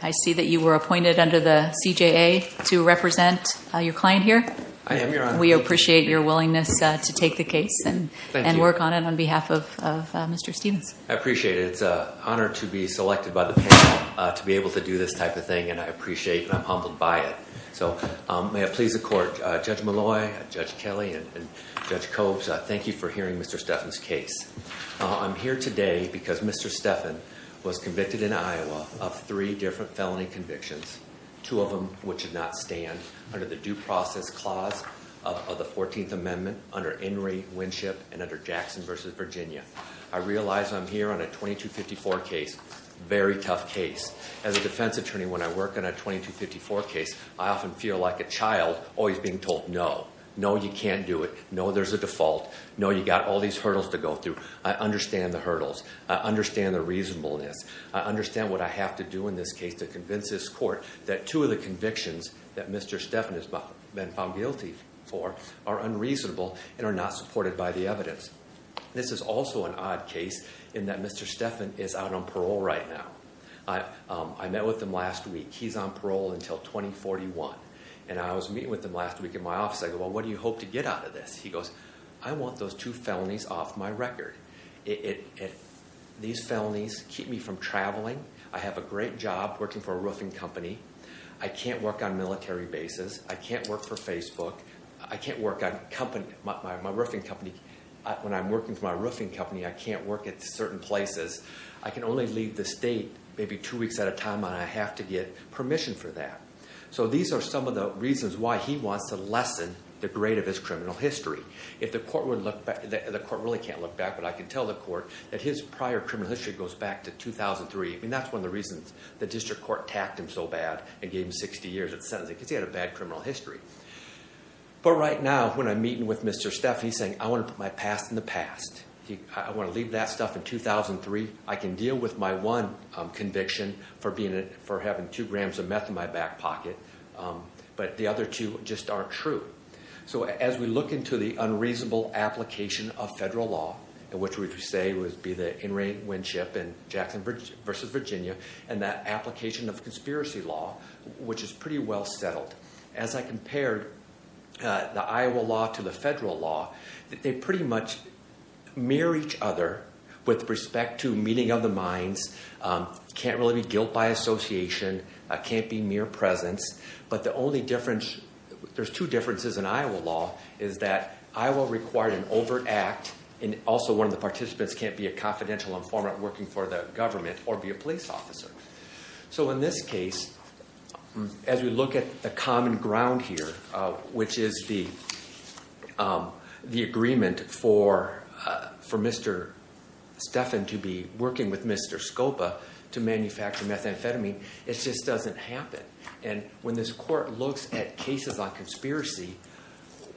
I see that you were appointed under the CJA to represent your client here. I am, Your Honor. We appreciate your willingness to take the case and work on it on behalf of Mr. Stephens. I appreciate it. It's an honor to be selected by the panel to be able to do this type of thing, and I appreciate and I'm humbled by it. So may it please the Court, Judge Malloy, Judge Kelly, and Judge Coates, thank you for hearing Mr. Stephen's case. I'm here today because Mr. Stephens was convicted in Iowa of three different felony convictions, two of them which did not stand under the Due Process Clause of the 14th Amendment under Henry Winship and under Jackson v. Virginia. I realize I'm here on a 2254 case, very tough case. As a defense attorney, when I work on a 2254 case, I often feel like a child always being told no. No, you can't do it. No, there's a default. No, you've got all these hurdles to go through. I understand the hurdles. I understand the reasonableness. I understand what I have to do in this case to convince this Court that two of the convictions that Mr. Stephens has been found guilty for are unreasonable and are not supported by the evidence. This is also an odd case in that Mr. Stephens is out on parole right now. I met with him last week. He's on parole until 2041. And I was meeting with him last week in my office. I go, well, what do you hope to get out of this? He goes, I want those two felonies off my record. These felonies keep me from traveling. I have a great job working for a roofing company. I can't work on military bases. I can't work for Facebook. I can't work on my roofing company. When I'm working for my roofing company, I can't work at certain places. I can only leave the state maybe two weeks at a time, and I have to get permission for that. So these are some of the reasons why he wants to lessen the grade of his criminal history. The Court really can't look back, but I can tell the Court that his prior criminal history goes back to 2003. I mean, that's one of the reasons the District Court tacked him so bad and gave him 60 years of sentencing, because he had a bad criminal history. But right now, when I'm meeting with Mr. Stephens, he's saying, I want to put my past in the past. I want to leave that stuff in 2003. I can deal with my one conviction for having two grams of meth in my back pocket, but the other two just aren't true. So as we look into the unreasonable application of federal law, which we say would be the in-ring win-ship in Jackson v. Virginia, and that application of conspiracy law, which is pretty well settled, as I compared the Iowa law to the federal law, they pretty much mirror each other with respect to meeting of the minds, can't really be guilt by association, can't be mere presence. But the only difference, there's two differences in Iowa law, is that Iowa required an overt act, and also one of the participants can't be a confidential informant working for the government or be a police officer. So in this case, as we look at the common ground here, which is the agreement for Mr. Stephens to be working with Mr. Scopa to manufacture methamphetamine, it just doesn't happen. And when this court looks at cases on conspiracy,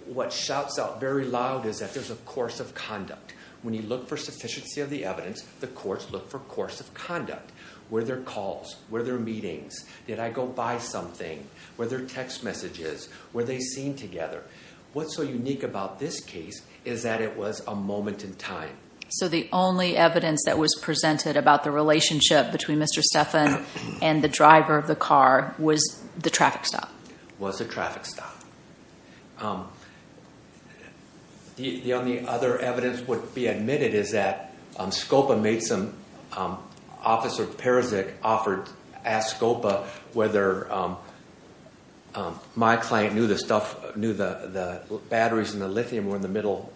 what shouts out very loud is that there's a course of conduct. When you look for sufficiency of the evidence, the courts look for course of conduct. Were there calls? Were there meetings? Did I go buy something? Were there text messages? Were they seen together? What's so unique about this case is that it was a moment in time. So the only evidence that was presented about the relationship between Mr. Stephens and the driver of the car was the traffic stop. Was the traffic stop. The only other evidence would be admitted is that Scopa made some – Officer Parazic asked Scopa whether my client knew the batteries in the lithium were in the middle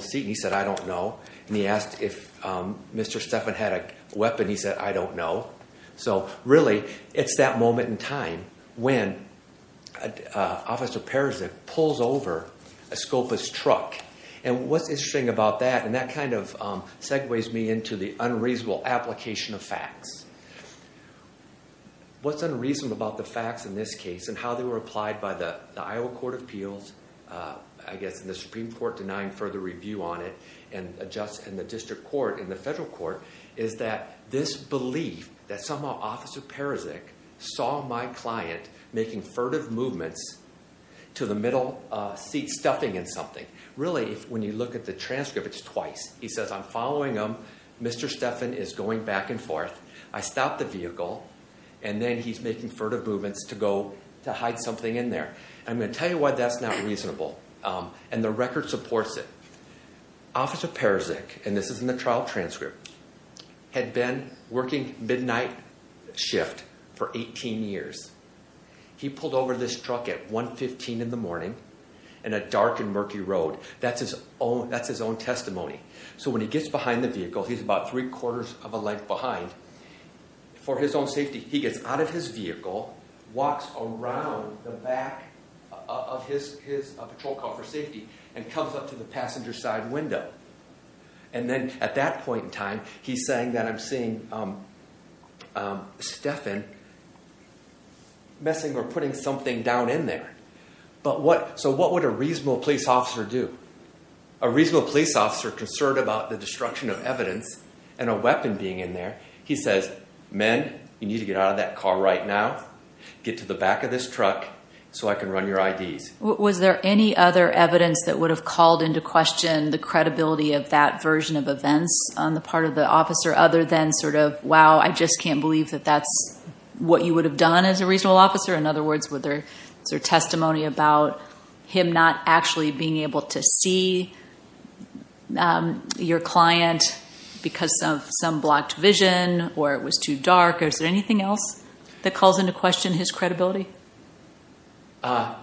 seat, and he said, I don't know. And he asked if Mr. Stephens had a weapon. He said, I don't know. So really, it's that moment in time when Officer Parazic pulls over Scopa's truck. And what's interesting about that, and that kind of segues me into the unreasonable application of facts. What's unreasonable about the facts in this case and how they were applied by the Iowa Court of Appeals, I guess, and the Supreme Court denying further review on it, and the district court and the federal court, is that this belief that somehow Officer Parazic saw my client making furtive movements to the middle seat stuffing in something. Really, when you look at the transcript, it's twice. He says, I'm following him. Mr. Stephens is going back and forth. I stop the vehicle. And then he's making furtive movements to go to hide something in there. I'm going to tell you why that's not reasonable. And the record supports it. Officer Parazic, and this is in the trial transcript, had been working midnight shift for 18 years. He pulled over this truck at 1.15 in the morning on a dark and murky road. That's his own testimony. So when he gets behind the vehicle, he's about three-quarters of a length behind. For his own safety, he gets out of his vehicle, walks around the back of his patrol car for safety, and comes up to the passenger side window. And then at that point in time, he's saying that I'm seeing Stephan messing or putting something down in there. So what would a reasonable police officer do? A reasonable police officer concerned about the destruction of evidence and a weapon being in there, he says, men, you need to get out of that car right now. Get to the back of this truck so I can run your IDs. Was there any other evidence that would have called into question the credibility of that version of events on the part of the officer other than sort of, wow, I just can't believe that that's what you would have done as a reasonable officer? In other words, was there testimony about him not actually being able to see your client because of some blocked vision or it was too dark? Or is there anything else that calls into question his credibility? I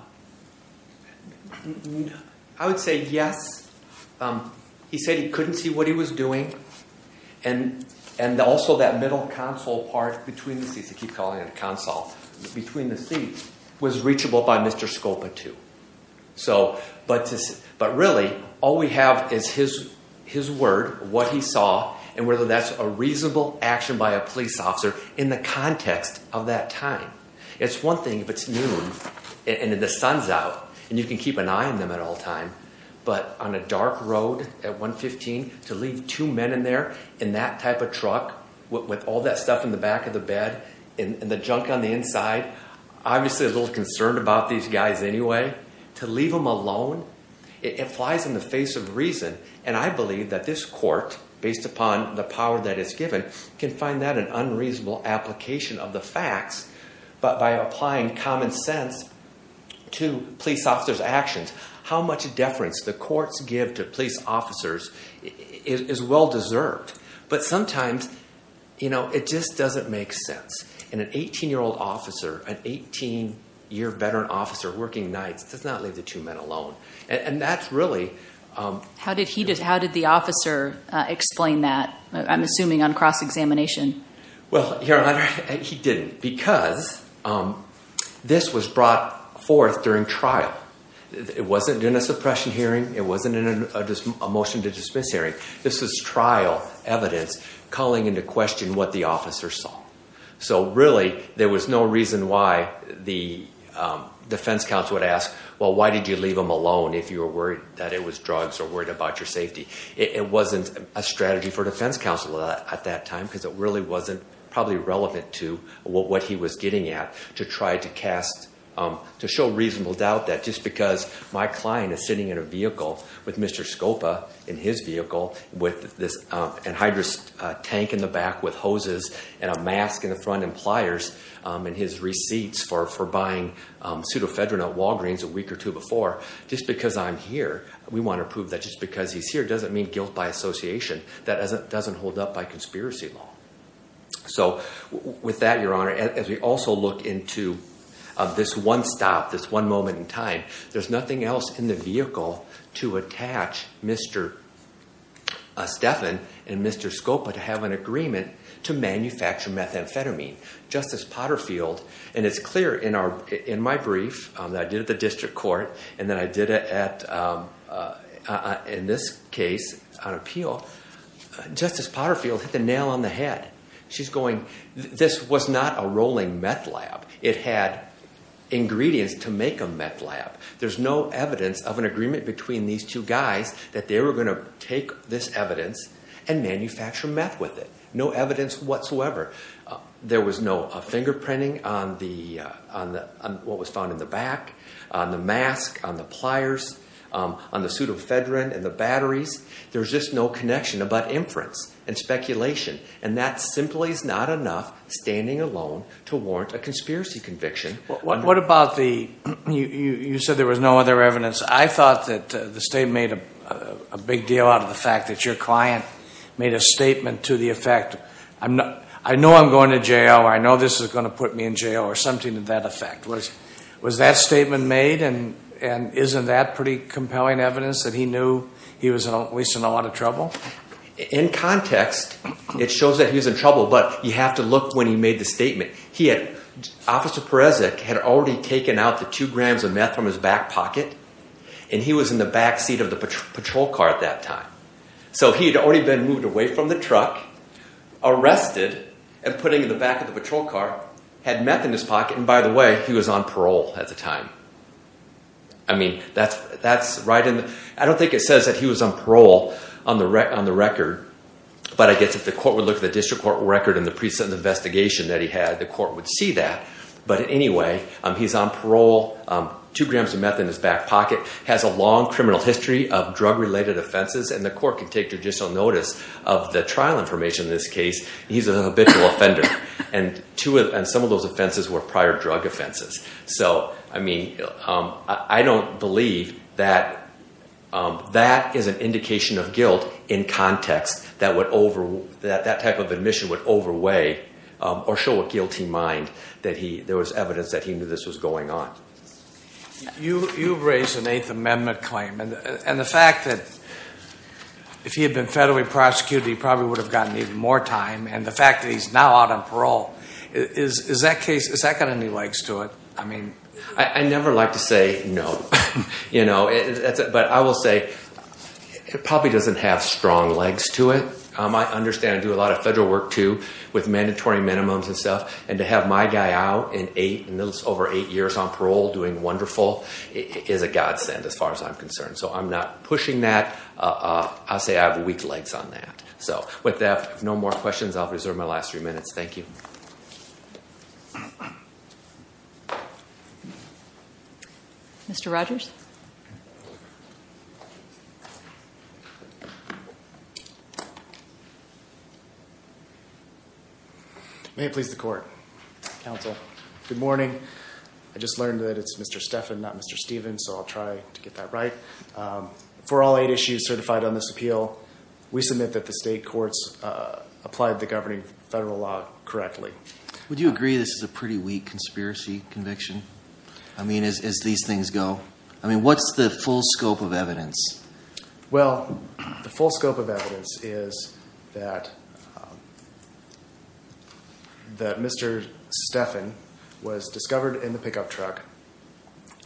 would say yes. He said he couldn't see what he was doing. And also that middle console part between the seats, he keeps calling it a console, between the seats, was reachable by Mr. Scopa too. But really, all we have is his word, what he saw, and whether that's a reasonable action by a police officer in the context of that time. It's one thing if it's noon and the sun's out and you can keep an eye on them at all times, but on a dark road at 115, to leave two men in there in that type of truck with all that stuff in the back of the bed and the junk on the inside, obviously a little concerned about these guys anyway. To leave them alone, it flies in the face of reason. And I believe that this court, based upon the power that it's given, can find that an unreasonable application of the facts. But by applying common sense to police officers' actions, how much deference the courts give to police officers is well-deserved. But sometimes, you know, it just doesn't make sense. And an 18-year-old officer, an 18-year veteran officer working nights does not leave the two men alone. And that's really... How did the officer explain that? I'm assuming on cross-examination. Well, Your Honor, he didn't because this was brought forth during trial. It wasn't in a suppression hearing. It wasn't in a motion to dismiss hearing. This was trial evidence calling into question what the officer saw. So really, there was no reason why the defense counsel would ask, well, why did you leave them alone if you were worried that it was drugs or worried about your safety? It wasn't a strategy for defense counsel at that time because it really wasn't probably relevant to what he was getting at to show reasonable doubt that just because my client is sitting in a vehicle with Mr. Scopa in his vehicle with this anhydrous tank in the back with hoses and a mask in the front and pliers and his receipts for buying pseudofedronate Walgreens a week or two before, just because I'm here, we want to prove that just because he's here doesn't mean guilt by association. That doesn't hold up by conspiracy law. So with that, Your Honor, as we also look into this one stop, this one moment in time, there's nothing else in the vehicle to attach Mr. Steffen and Mr. Scopa to have an agreement to manufacture methamphetamine. Justice Potterfield, and it's clear in my brief that I did at the district court, and then I did it in this case on appeal, Justice Potterfield hit the nail on the head. She's going, this was not a rolling meth lab. It had ingredients to make a meth lab. There's no evidence of an agreement between these two guys that they were going to take this evidence and manufacture meth with it. No evidence whatsoever. There was no fingerprinting on what was found in the back, on the mask, on the pliers, on the pseudofedron and the batteries. There's just no connection about inference and speculation, and that simply is not enough standing alone to warrant a conspiracy conviction. What about the, you said there was no other evidence. I thought that the statement made a big deal out of the fact that your client made a statement to the effect, I know I'm going to jail, I know this is going to put me in jail, or something to that effect. Was that statement made, and isn't that pretty compelling evidence that he knew he was at least in a lot of trouble? In context, it shows that he was in trouble, but you have to look when he made the statement. He had, Officer Perezek had already taken out the two grams of meth from his back pocket, and he was in the back seat of the patrol car at that time. So he had already been moved away from the truck, arrested, and put into the back of the patrol car, had meth in his pocket, and by the way, he was on parole at the time. I mean, that's right in the, I don't think it says that he was on parole on the record, but I guess if the court would look at the district court record and the present investigation that he had, the court would see that. But anyway, he's on parole, two grams of meth in his back pocket, has a long criminal history of drug-related offenses, and the court can take judicial notice of the trial information in this case. He's a habitual offender, and some of those offenses were prior drug offenses. So, I mean, I don't believe that that is an indication of guilt in context, that that type of admission would overweigh or show a guilty mind, that there was evidence that he knew this was going on. You raised an Eighth Amendment claim, and the fact that if he had been federally prosecuted, he probably would have gotten even more time, and the fact that he's now out on parole, is that got any legs to it? I mean, I never like to say no, you know, but I will say it probably doesn't have strong legs to it. I understand I do a lot of federal work, too, with mandatory minimums and stuff, and to have my guy out in those over eight years on parole doing wonderful is a godsend as far as I'm concerned. So, I'm not pushing that. I'll say I have weak legs on that. So, with that, if no more questions, I'll reserve my last three minutes. Thank you. Mr. Rogers? May it please the Court. Counsel, good morning. I just learned that it's Mr. Stephan, not Mr. Stevens, so I'll try to get that right. For all eight issues certified on this appeal, we submit that the state courts applied the governing federal law correctly. Would you agree this is a pretty weak conspiracy conviction? I mean, as these things go, I mean, what's the full scope of evidence? Well, the full scope of evidence is that Mr. Stephan was discovered in the pickup truck,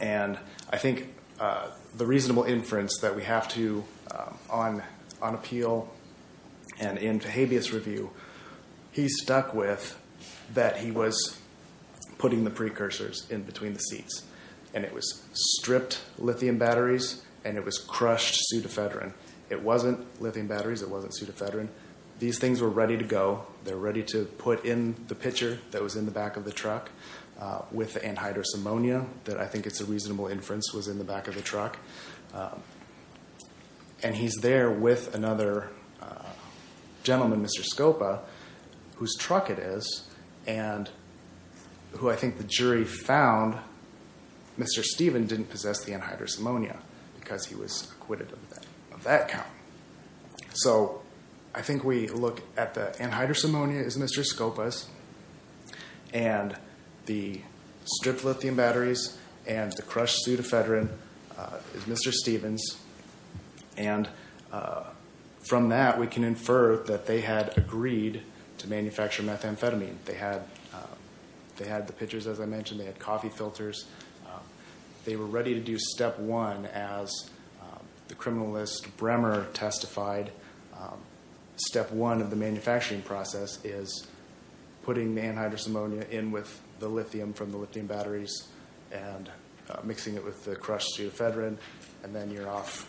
and I think the reasonable inference that we have to on appeal and in the habeas review, he's stuck with that he was putting the precursors in between the seats, and it was stripped lithium batteries, and it was crushed pseudofedrin. It wasn't lithium batteries. It wasn't pseudofedrin. These things were ready to go. They're ready to put in the pitcher that was in the back of the truck with the anhydrous ammonia that I think is a reasonable inference was in the back of the truck, and he's there with another gentleman, Mr. Scopa, whose truck it is, and who I think the jury found Mr. Stephan didn't possess the anhydrous ammonia because he was acquitted of that count, so I think we look at the anhydrous ammonia is Mr. Scopa's, and the stripped lithium batteries and the crushed pseudofedrin is Mr. Stephan's, and from that we can infer that they had agreed to manufacture methamphetamine. They had the pitchers, as I mentioned. They had coffee filters. They were ready to do step one, as the criminalist Bremer testified. Step one of the manufacturing process is putting the anhydrous ammonia in with the lithium from the lithium batteries and mixing it with the crushed pseudofedrin, and then you're off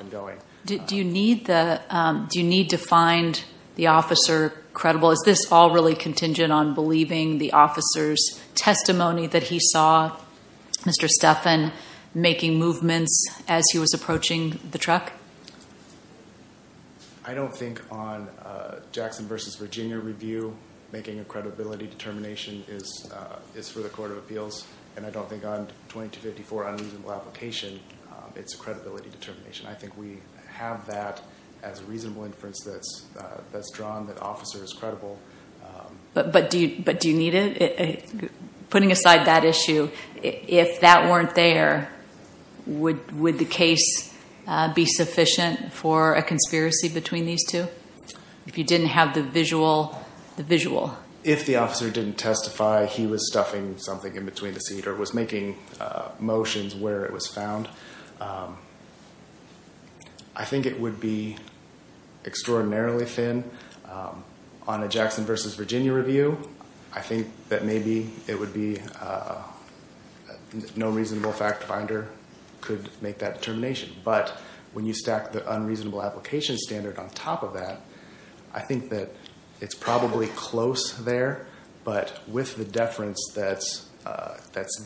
and going. Do you need to find the officer credible? Is this all really contingent on believing the officer's testimony that he saw Mr. Stephan making movements as he was approaching the truck? I don't think on Jackson v. Virginia review making a credibility determination is for the Court of Appeals, and I don't think on 2254 on reasonable application it's a credibility determination. I think we have that as a reasonable inference that's drawn that the officer is credible. But do you need it? Putting aside that issue, if that weren't there, would the case be sufficient for a conspiracy between these two? If you didn't have the visual? If the officer didn't testify, he was stuffing something in between the seat or was making motions where it was found, I think it would be extraordinarily thin. On a Jackson v. Virginia review, I think that maybe it would be no reasonable fact finder could make that determination. But when you stack the unreasonable application standard on top of that, I think that it's probably close there, but with the deference that's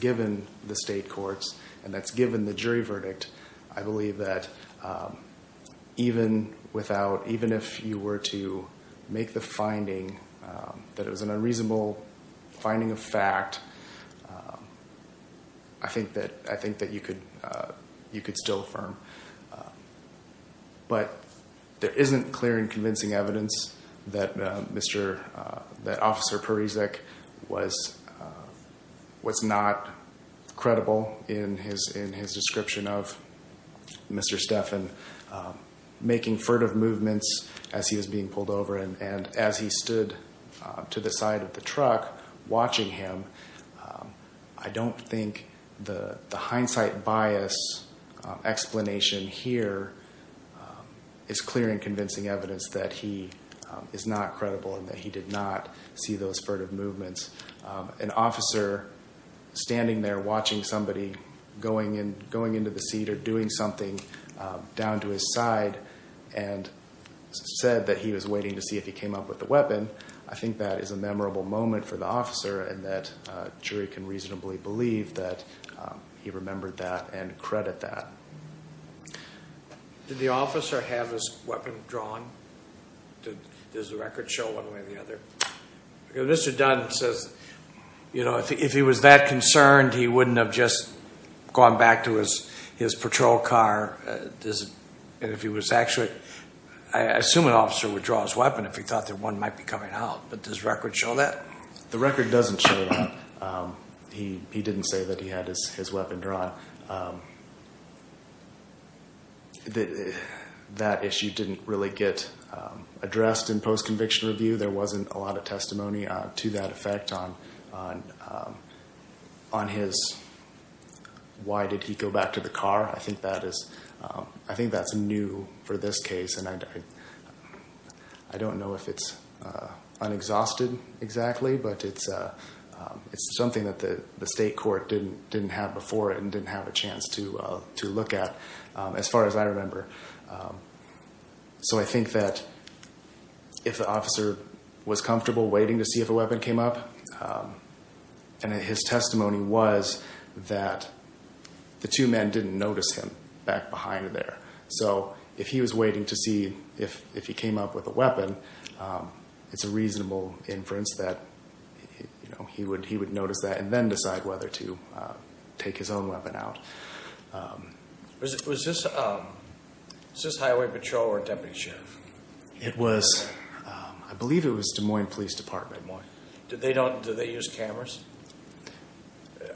given the state courts and that's given the jury verdict, I believe that even if you were to make the finding that it was an unreasonable finding of fact, I think that you could still affirm. But there isn't clear and convincing evidence that Officer Parizek was not credible in his description of Mr. Stephan making furtive movements as he was being pulled over and as he stood to the side of the truck watching him. I don't think the hindsight bias explanation here is clear and convincing evidence that he is not credible and that he did not see those furtive movements. An officer standing there watching somebody going into the seat or doing something down to his side and said that he was waiting to see if he came up with a weapon, I think that is a memorable moment for the officer and that jury can reasonably believe that he remembered that and credit that. Did the officer have his weapon drawn? Does the record show one way or the other? Because Mr. Dunn says, you know, if he was that concerned, he wouldn't have just gone back to his patrol car. And if he was actually, I assume an officer would draw his weapon if he thought that one might be coming out. But does the record show that? The record doesn't show that. He didn't say that he had his weapon drawn. That issue didn't really get addressed in post-conviction review. There wasn't a lot of testimony to that effect on his, why did he go back to the car? I think that's new for this case. And I don't know if it's unexhausted exactly, but it's something that the state court didn't have before and didn't have a chance to look at as far as I remember. So I think that if the officer was comfortable waiting to see if a weapon came up and his testimony was that the two men didn't notice him back behind there. So if he was waiting to see if he came up with a weapon, it's a reasonable inference that he would notice that and then decide whether to take his own weapon out. Was this Highway Patrol or Deputy Sheriff? It was, I believe it was Des Moines Police Department. Did they use cameras?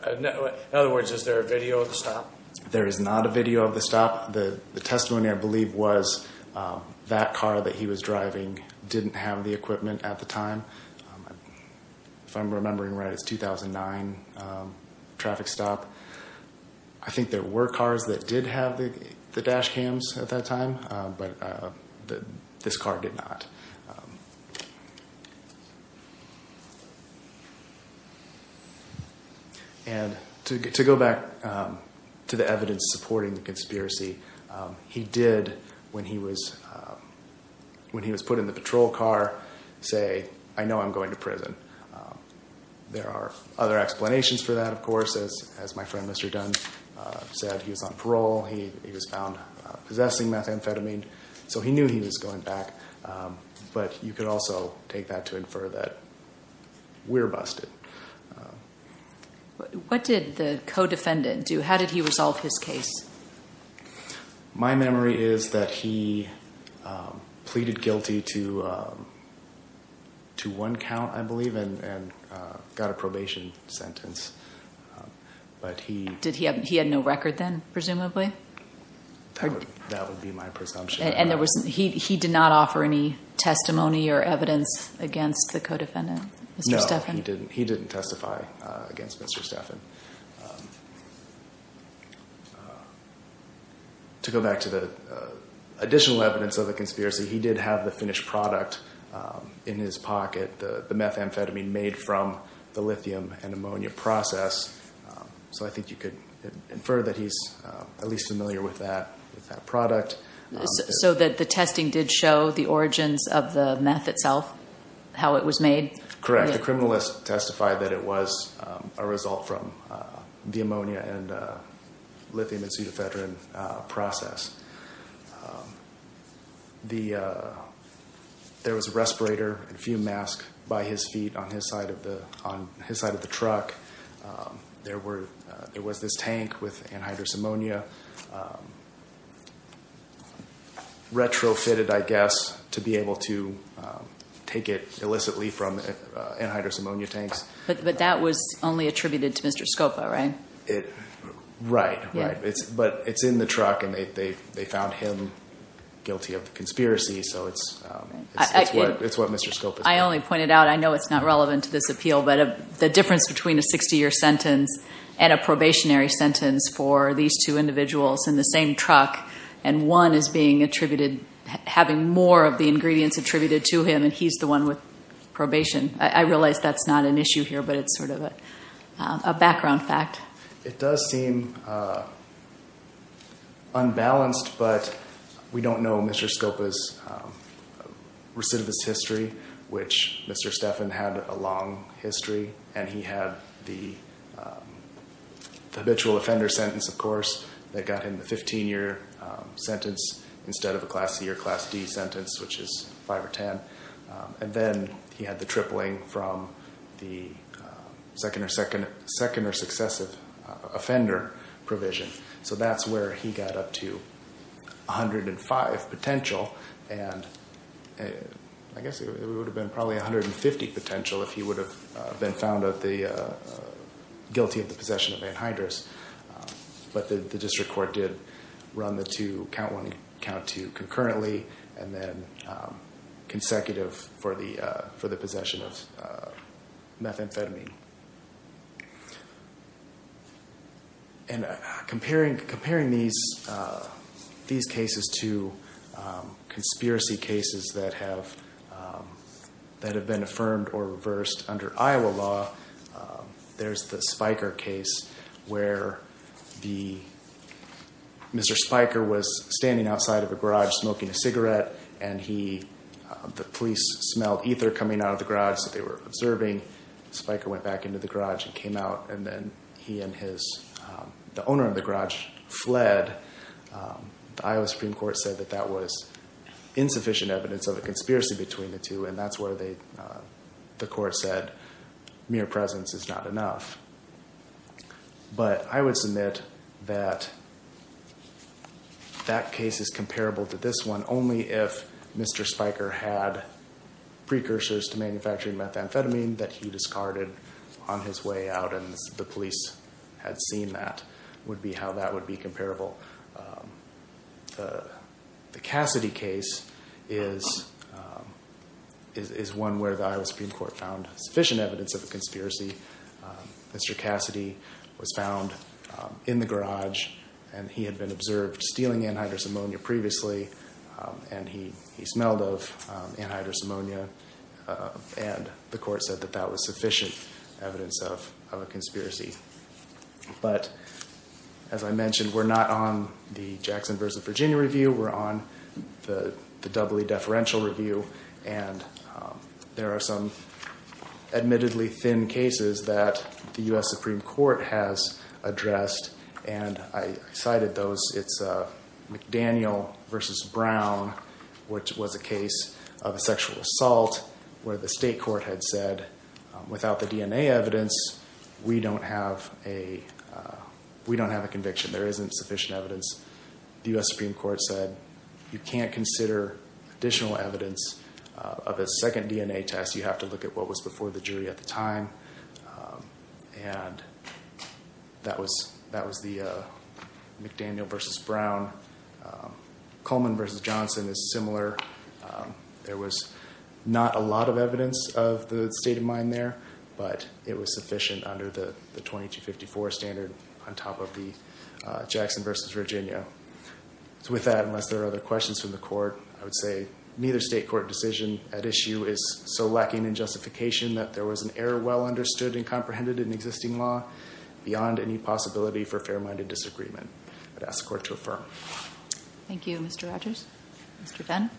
In other words, is there a video of the stop? There is not a video of the stop. The testimony I believe was that car that he was driving didn't have the equipment at the time. If I'm remembering right, it's 2009 traffic stop. I think there were cars that did have the dash cams at that time, but this car did not. And to go back to the evidence supporting the conspiracy, he did, when he was put in the patrol car, say, I know I'm going to prison. There are other explanations for that, of course. As my friend Mr. Dunn said, he was on parole. He was found possessing methamphetamine. So he knew he was going back, but you could also take that to infer that we're busted. What did the co-defendant do? How did he resolve his case? My memory is that he pleaded guilty to one count, I believe, and got a probation sentence. He had no record then, presumably? That would be my presumption. And he did not offer any testimony or evidence against the co-defendant, Mr. Stephan? No, he didn't testify against Mr. Stephan. To go back to the additional evidence of the conspiracy, he did have the finished product in his pocket, the methamphetamine made from the lithium and ammonia process. So I think you could infer that he's at least familiar with that product. So the testing did show the origins of the meth itself, how it was made? Correct. The criminalist testified that it was a result from the ammonia and lithium and pseudoephedrine process. There was a respirator and a fume mask by his feet on his side of the truck. There was this tank with anhydrous ammonia, retrofitted, I guess, to be able to take it illicitly from anhydrous ammonia tanks. But that was only attributed to Mr. Scopa, right? Right. But it's in the truck, and they found him guilty of the conspiracy, so it's what Mr. Scopa said. I only pointed out, I know it's not relevant to this appeal, but the difference between a 60-year sentence and a probationary sentence for these two individuals in the same truck, and one is being attributed, having more of the ingredients attributed to him, and he's the one with probation. I realize that's not an issue here, but it's sort of a background fact. It does seem unbalanced, but we don't know Mr. Scopa's recidivist history, which Mr. Stephan had a long history, and he had the habitual offender sentence, of course, that got him the 15-year sentence instead of a Class C or Class D sentence, which is 5 or 10. And then he had the tripling from the second or successive offender provision. So that's where he got up to 105 potential, and I guess it would have been probably 150 potential if he would have been found guilty of the possession of anhydrous. But the district court did run the count one and count two concurrently, and then consecutive for the possession of methamphetamine. And comparing these cases to conspiracy cases that have been affirmed or reversed under Iowa law, there's the Spiker case where Mr. Spiker was standing outside of a garage smoking a cigarette, and the police smelled ether coming out of the garage, so they were observing. Spiker went back into the garage and came out, and then he and the owner of the garage fled. The Iowa Supreme Court said that that was insufficient evidence of a conspiracy between the two, and that's where the court said mere presence is not enough. But I would submit that that case is comparable to this one, only if Mr. Spiker had precursors to manufacturing methamphetamine that he discarded on his way out, and the police had seen that would be how that would be comparable. The Cassidy case is one where the Iowa Supreme Court found sufficient evidence of a conspiracy. Mr. Cassidy was found in the garage, and he had been observed stealing anhydrous ammonia previously, and he smelled of anhydrous ammonia, and the court said that that was sufficient evidence of a conspiracy. But as I mentioned, we're not on the Jackson v. Virginia review. We're on the doubly deferential review, and there are some admittedly thin cases that the U.S. Supreme Court has addressed, and I cited those. It's McDaniel v. Brown, which was a case of a sexual assault where the state court had said, without the DNA evidence, we don't have a conviction. There isn't sufficient evidence. The U.S. Supreme Court said you can't consider additional evidence of a second DNA test. You have to look at what was before the jury at the time, and that was the McDaniel v. Brown. Coleman v. Johnson is similar. There was not a lot of evidence of the state of mind there, but it was sufficient under the 2254 standard on top of the Jackson v. Virginia. So with that, unless there are other questions from the court, I would say neither state court decision at issue is so lacking in justification that there was an error well understood and comprehended in existing law beyond any possibility for fair-minded disagreement. I'd ask the court to affirm. Thank you, Mr. Rogers. Mr. Dunn.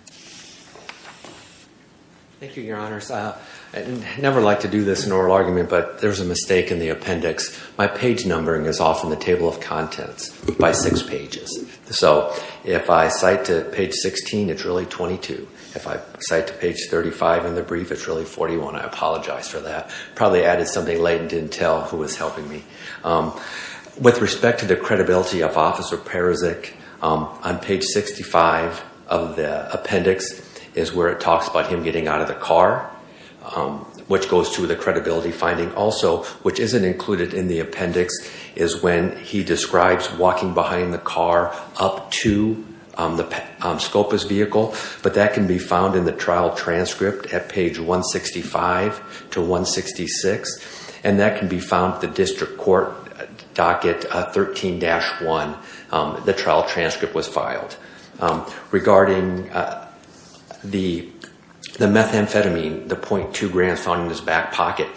Thank you, Your Honors. I never like to do this in oral argument, but there's a mistake in the appendix. My page numbering is off in the table of contents by six pages. So if I cite to page 16, it's really 22. If I cite to page 35 in the brief, it's really 41. I apologize for that. Probably added something late and didn't tell who was helping me. With respect to the credibility of Officer Parizek, on page 65 of the appendix is where it talks about him getting out of the car, which goes to the credibility finding also, which isn't included in the appendix, is when he describes walking behind the car up to Skopa's vehicle. But that can be found in the trial transcript at page 165 to 166, and that can be found at the district court docket 13-1. The trial transcript was filed. Regarding the methamphetamine, the .2 grams found in his back pocket,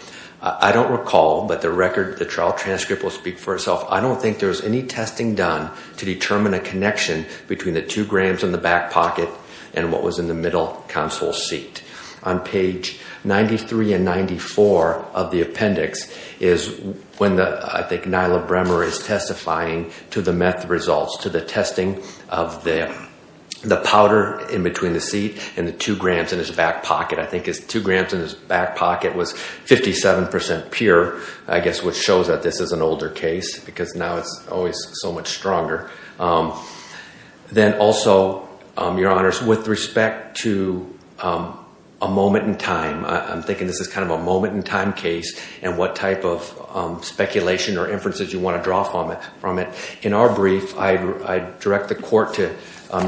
I don't recall, but the record of the trial transcript will speak for itself. I don't think there was any testing done to determine a connection between the two grams in the back pocket and what was in the middle counsel seat. On page 93 and 94 of the appendix is when I think Nyla Bremer is testifying to the meth results, to the testing of the powder in between the seat and the two grams in his back pocket. I think his two grams in his back pocket was 57% pure, I guess which shows that this is an older case because now it's always so much stronger. Then also, Your Honors, with respect to a moment in time, I'm thinking this is kind of a moment in time case and what type of speculation or inferences you want to draw from it. In our brief, I direct the court to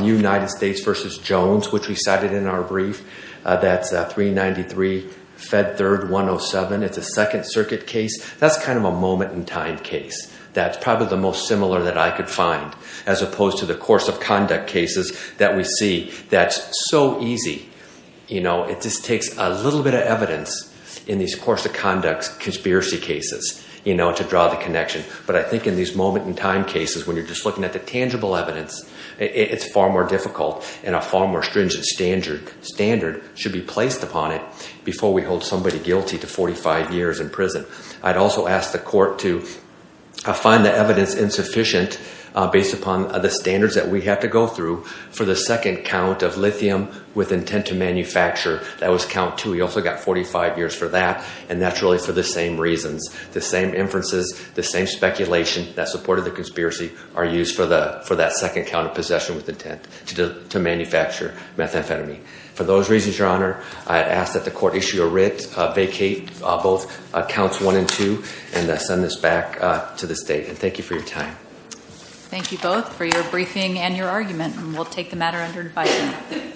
United States v. Jones, which we cited in our brief. That's 393 Fed Third 107. It's a Second Circuit case. That's kind of a moment in time case. That's probably the most similar that I could find as opposed to the course of conduct cases that we see that's so easy. It just takes a little bit of evidence in these course of conduct conspiracy cases to draw the connection. But I think in these moment in time cases when you're just looking at the tangible evidence, it's far more difficult and a far more stringent standard should be placed upon it before we hold somebody guilty to 45 years in prison. I'd also ask the court to find the evidence insufficient based upon the standards that we have to go through for the second count of lithium with intent to manufacture. That was count two. You also got 45 years for that, and that's really for the same reasons, the same inferences, the same speculation that supported the conspiracy are used for that second count of possession with intent to manufacture methamphetamine. For those reasons, Your Honor, I ask that the court issue a writ, vacate both counts one and two, and send this back to the state. Thank you for your time. Thank you both for your briefing and your argument. We'll take the matter under advisement.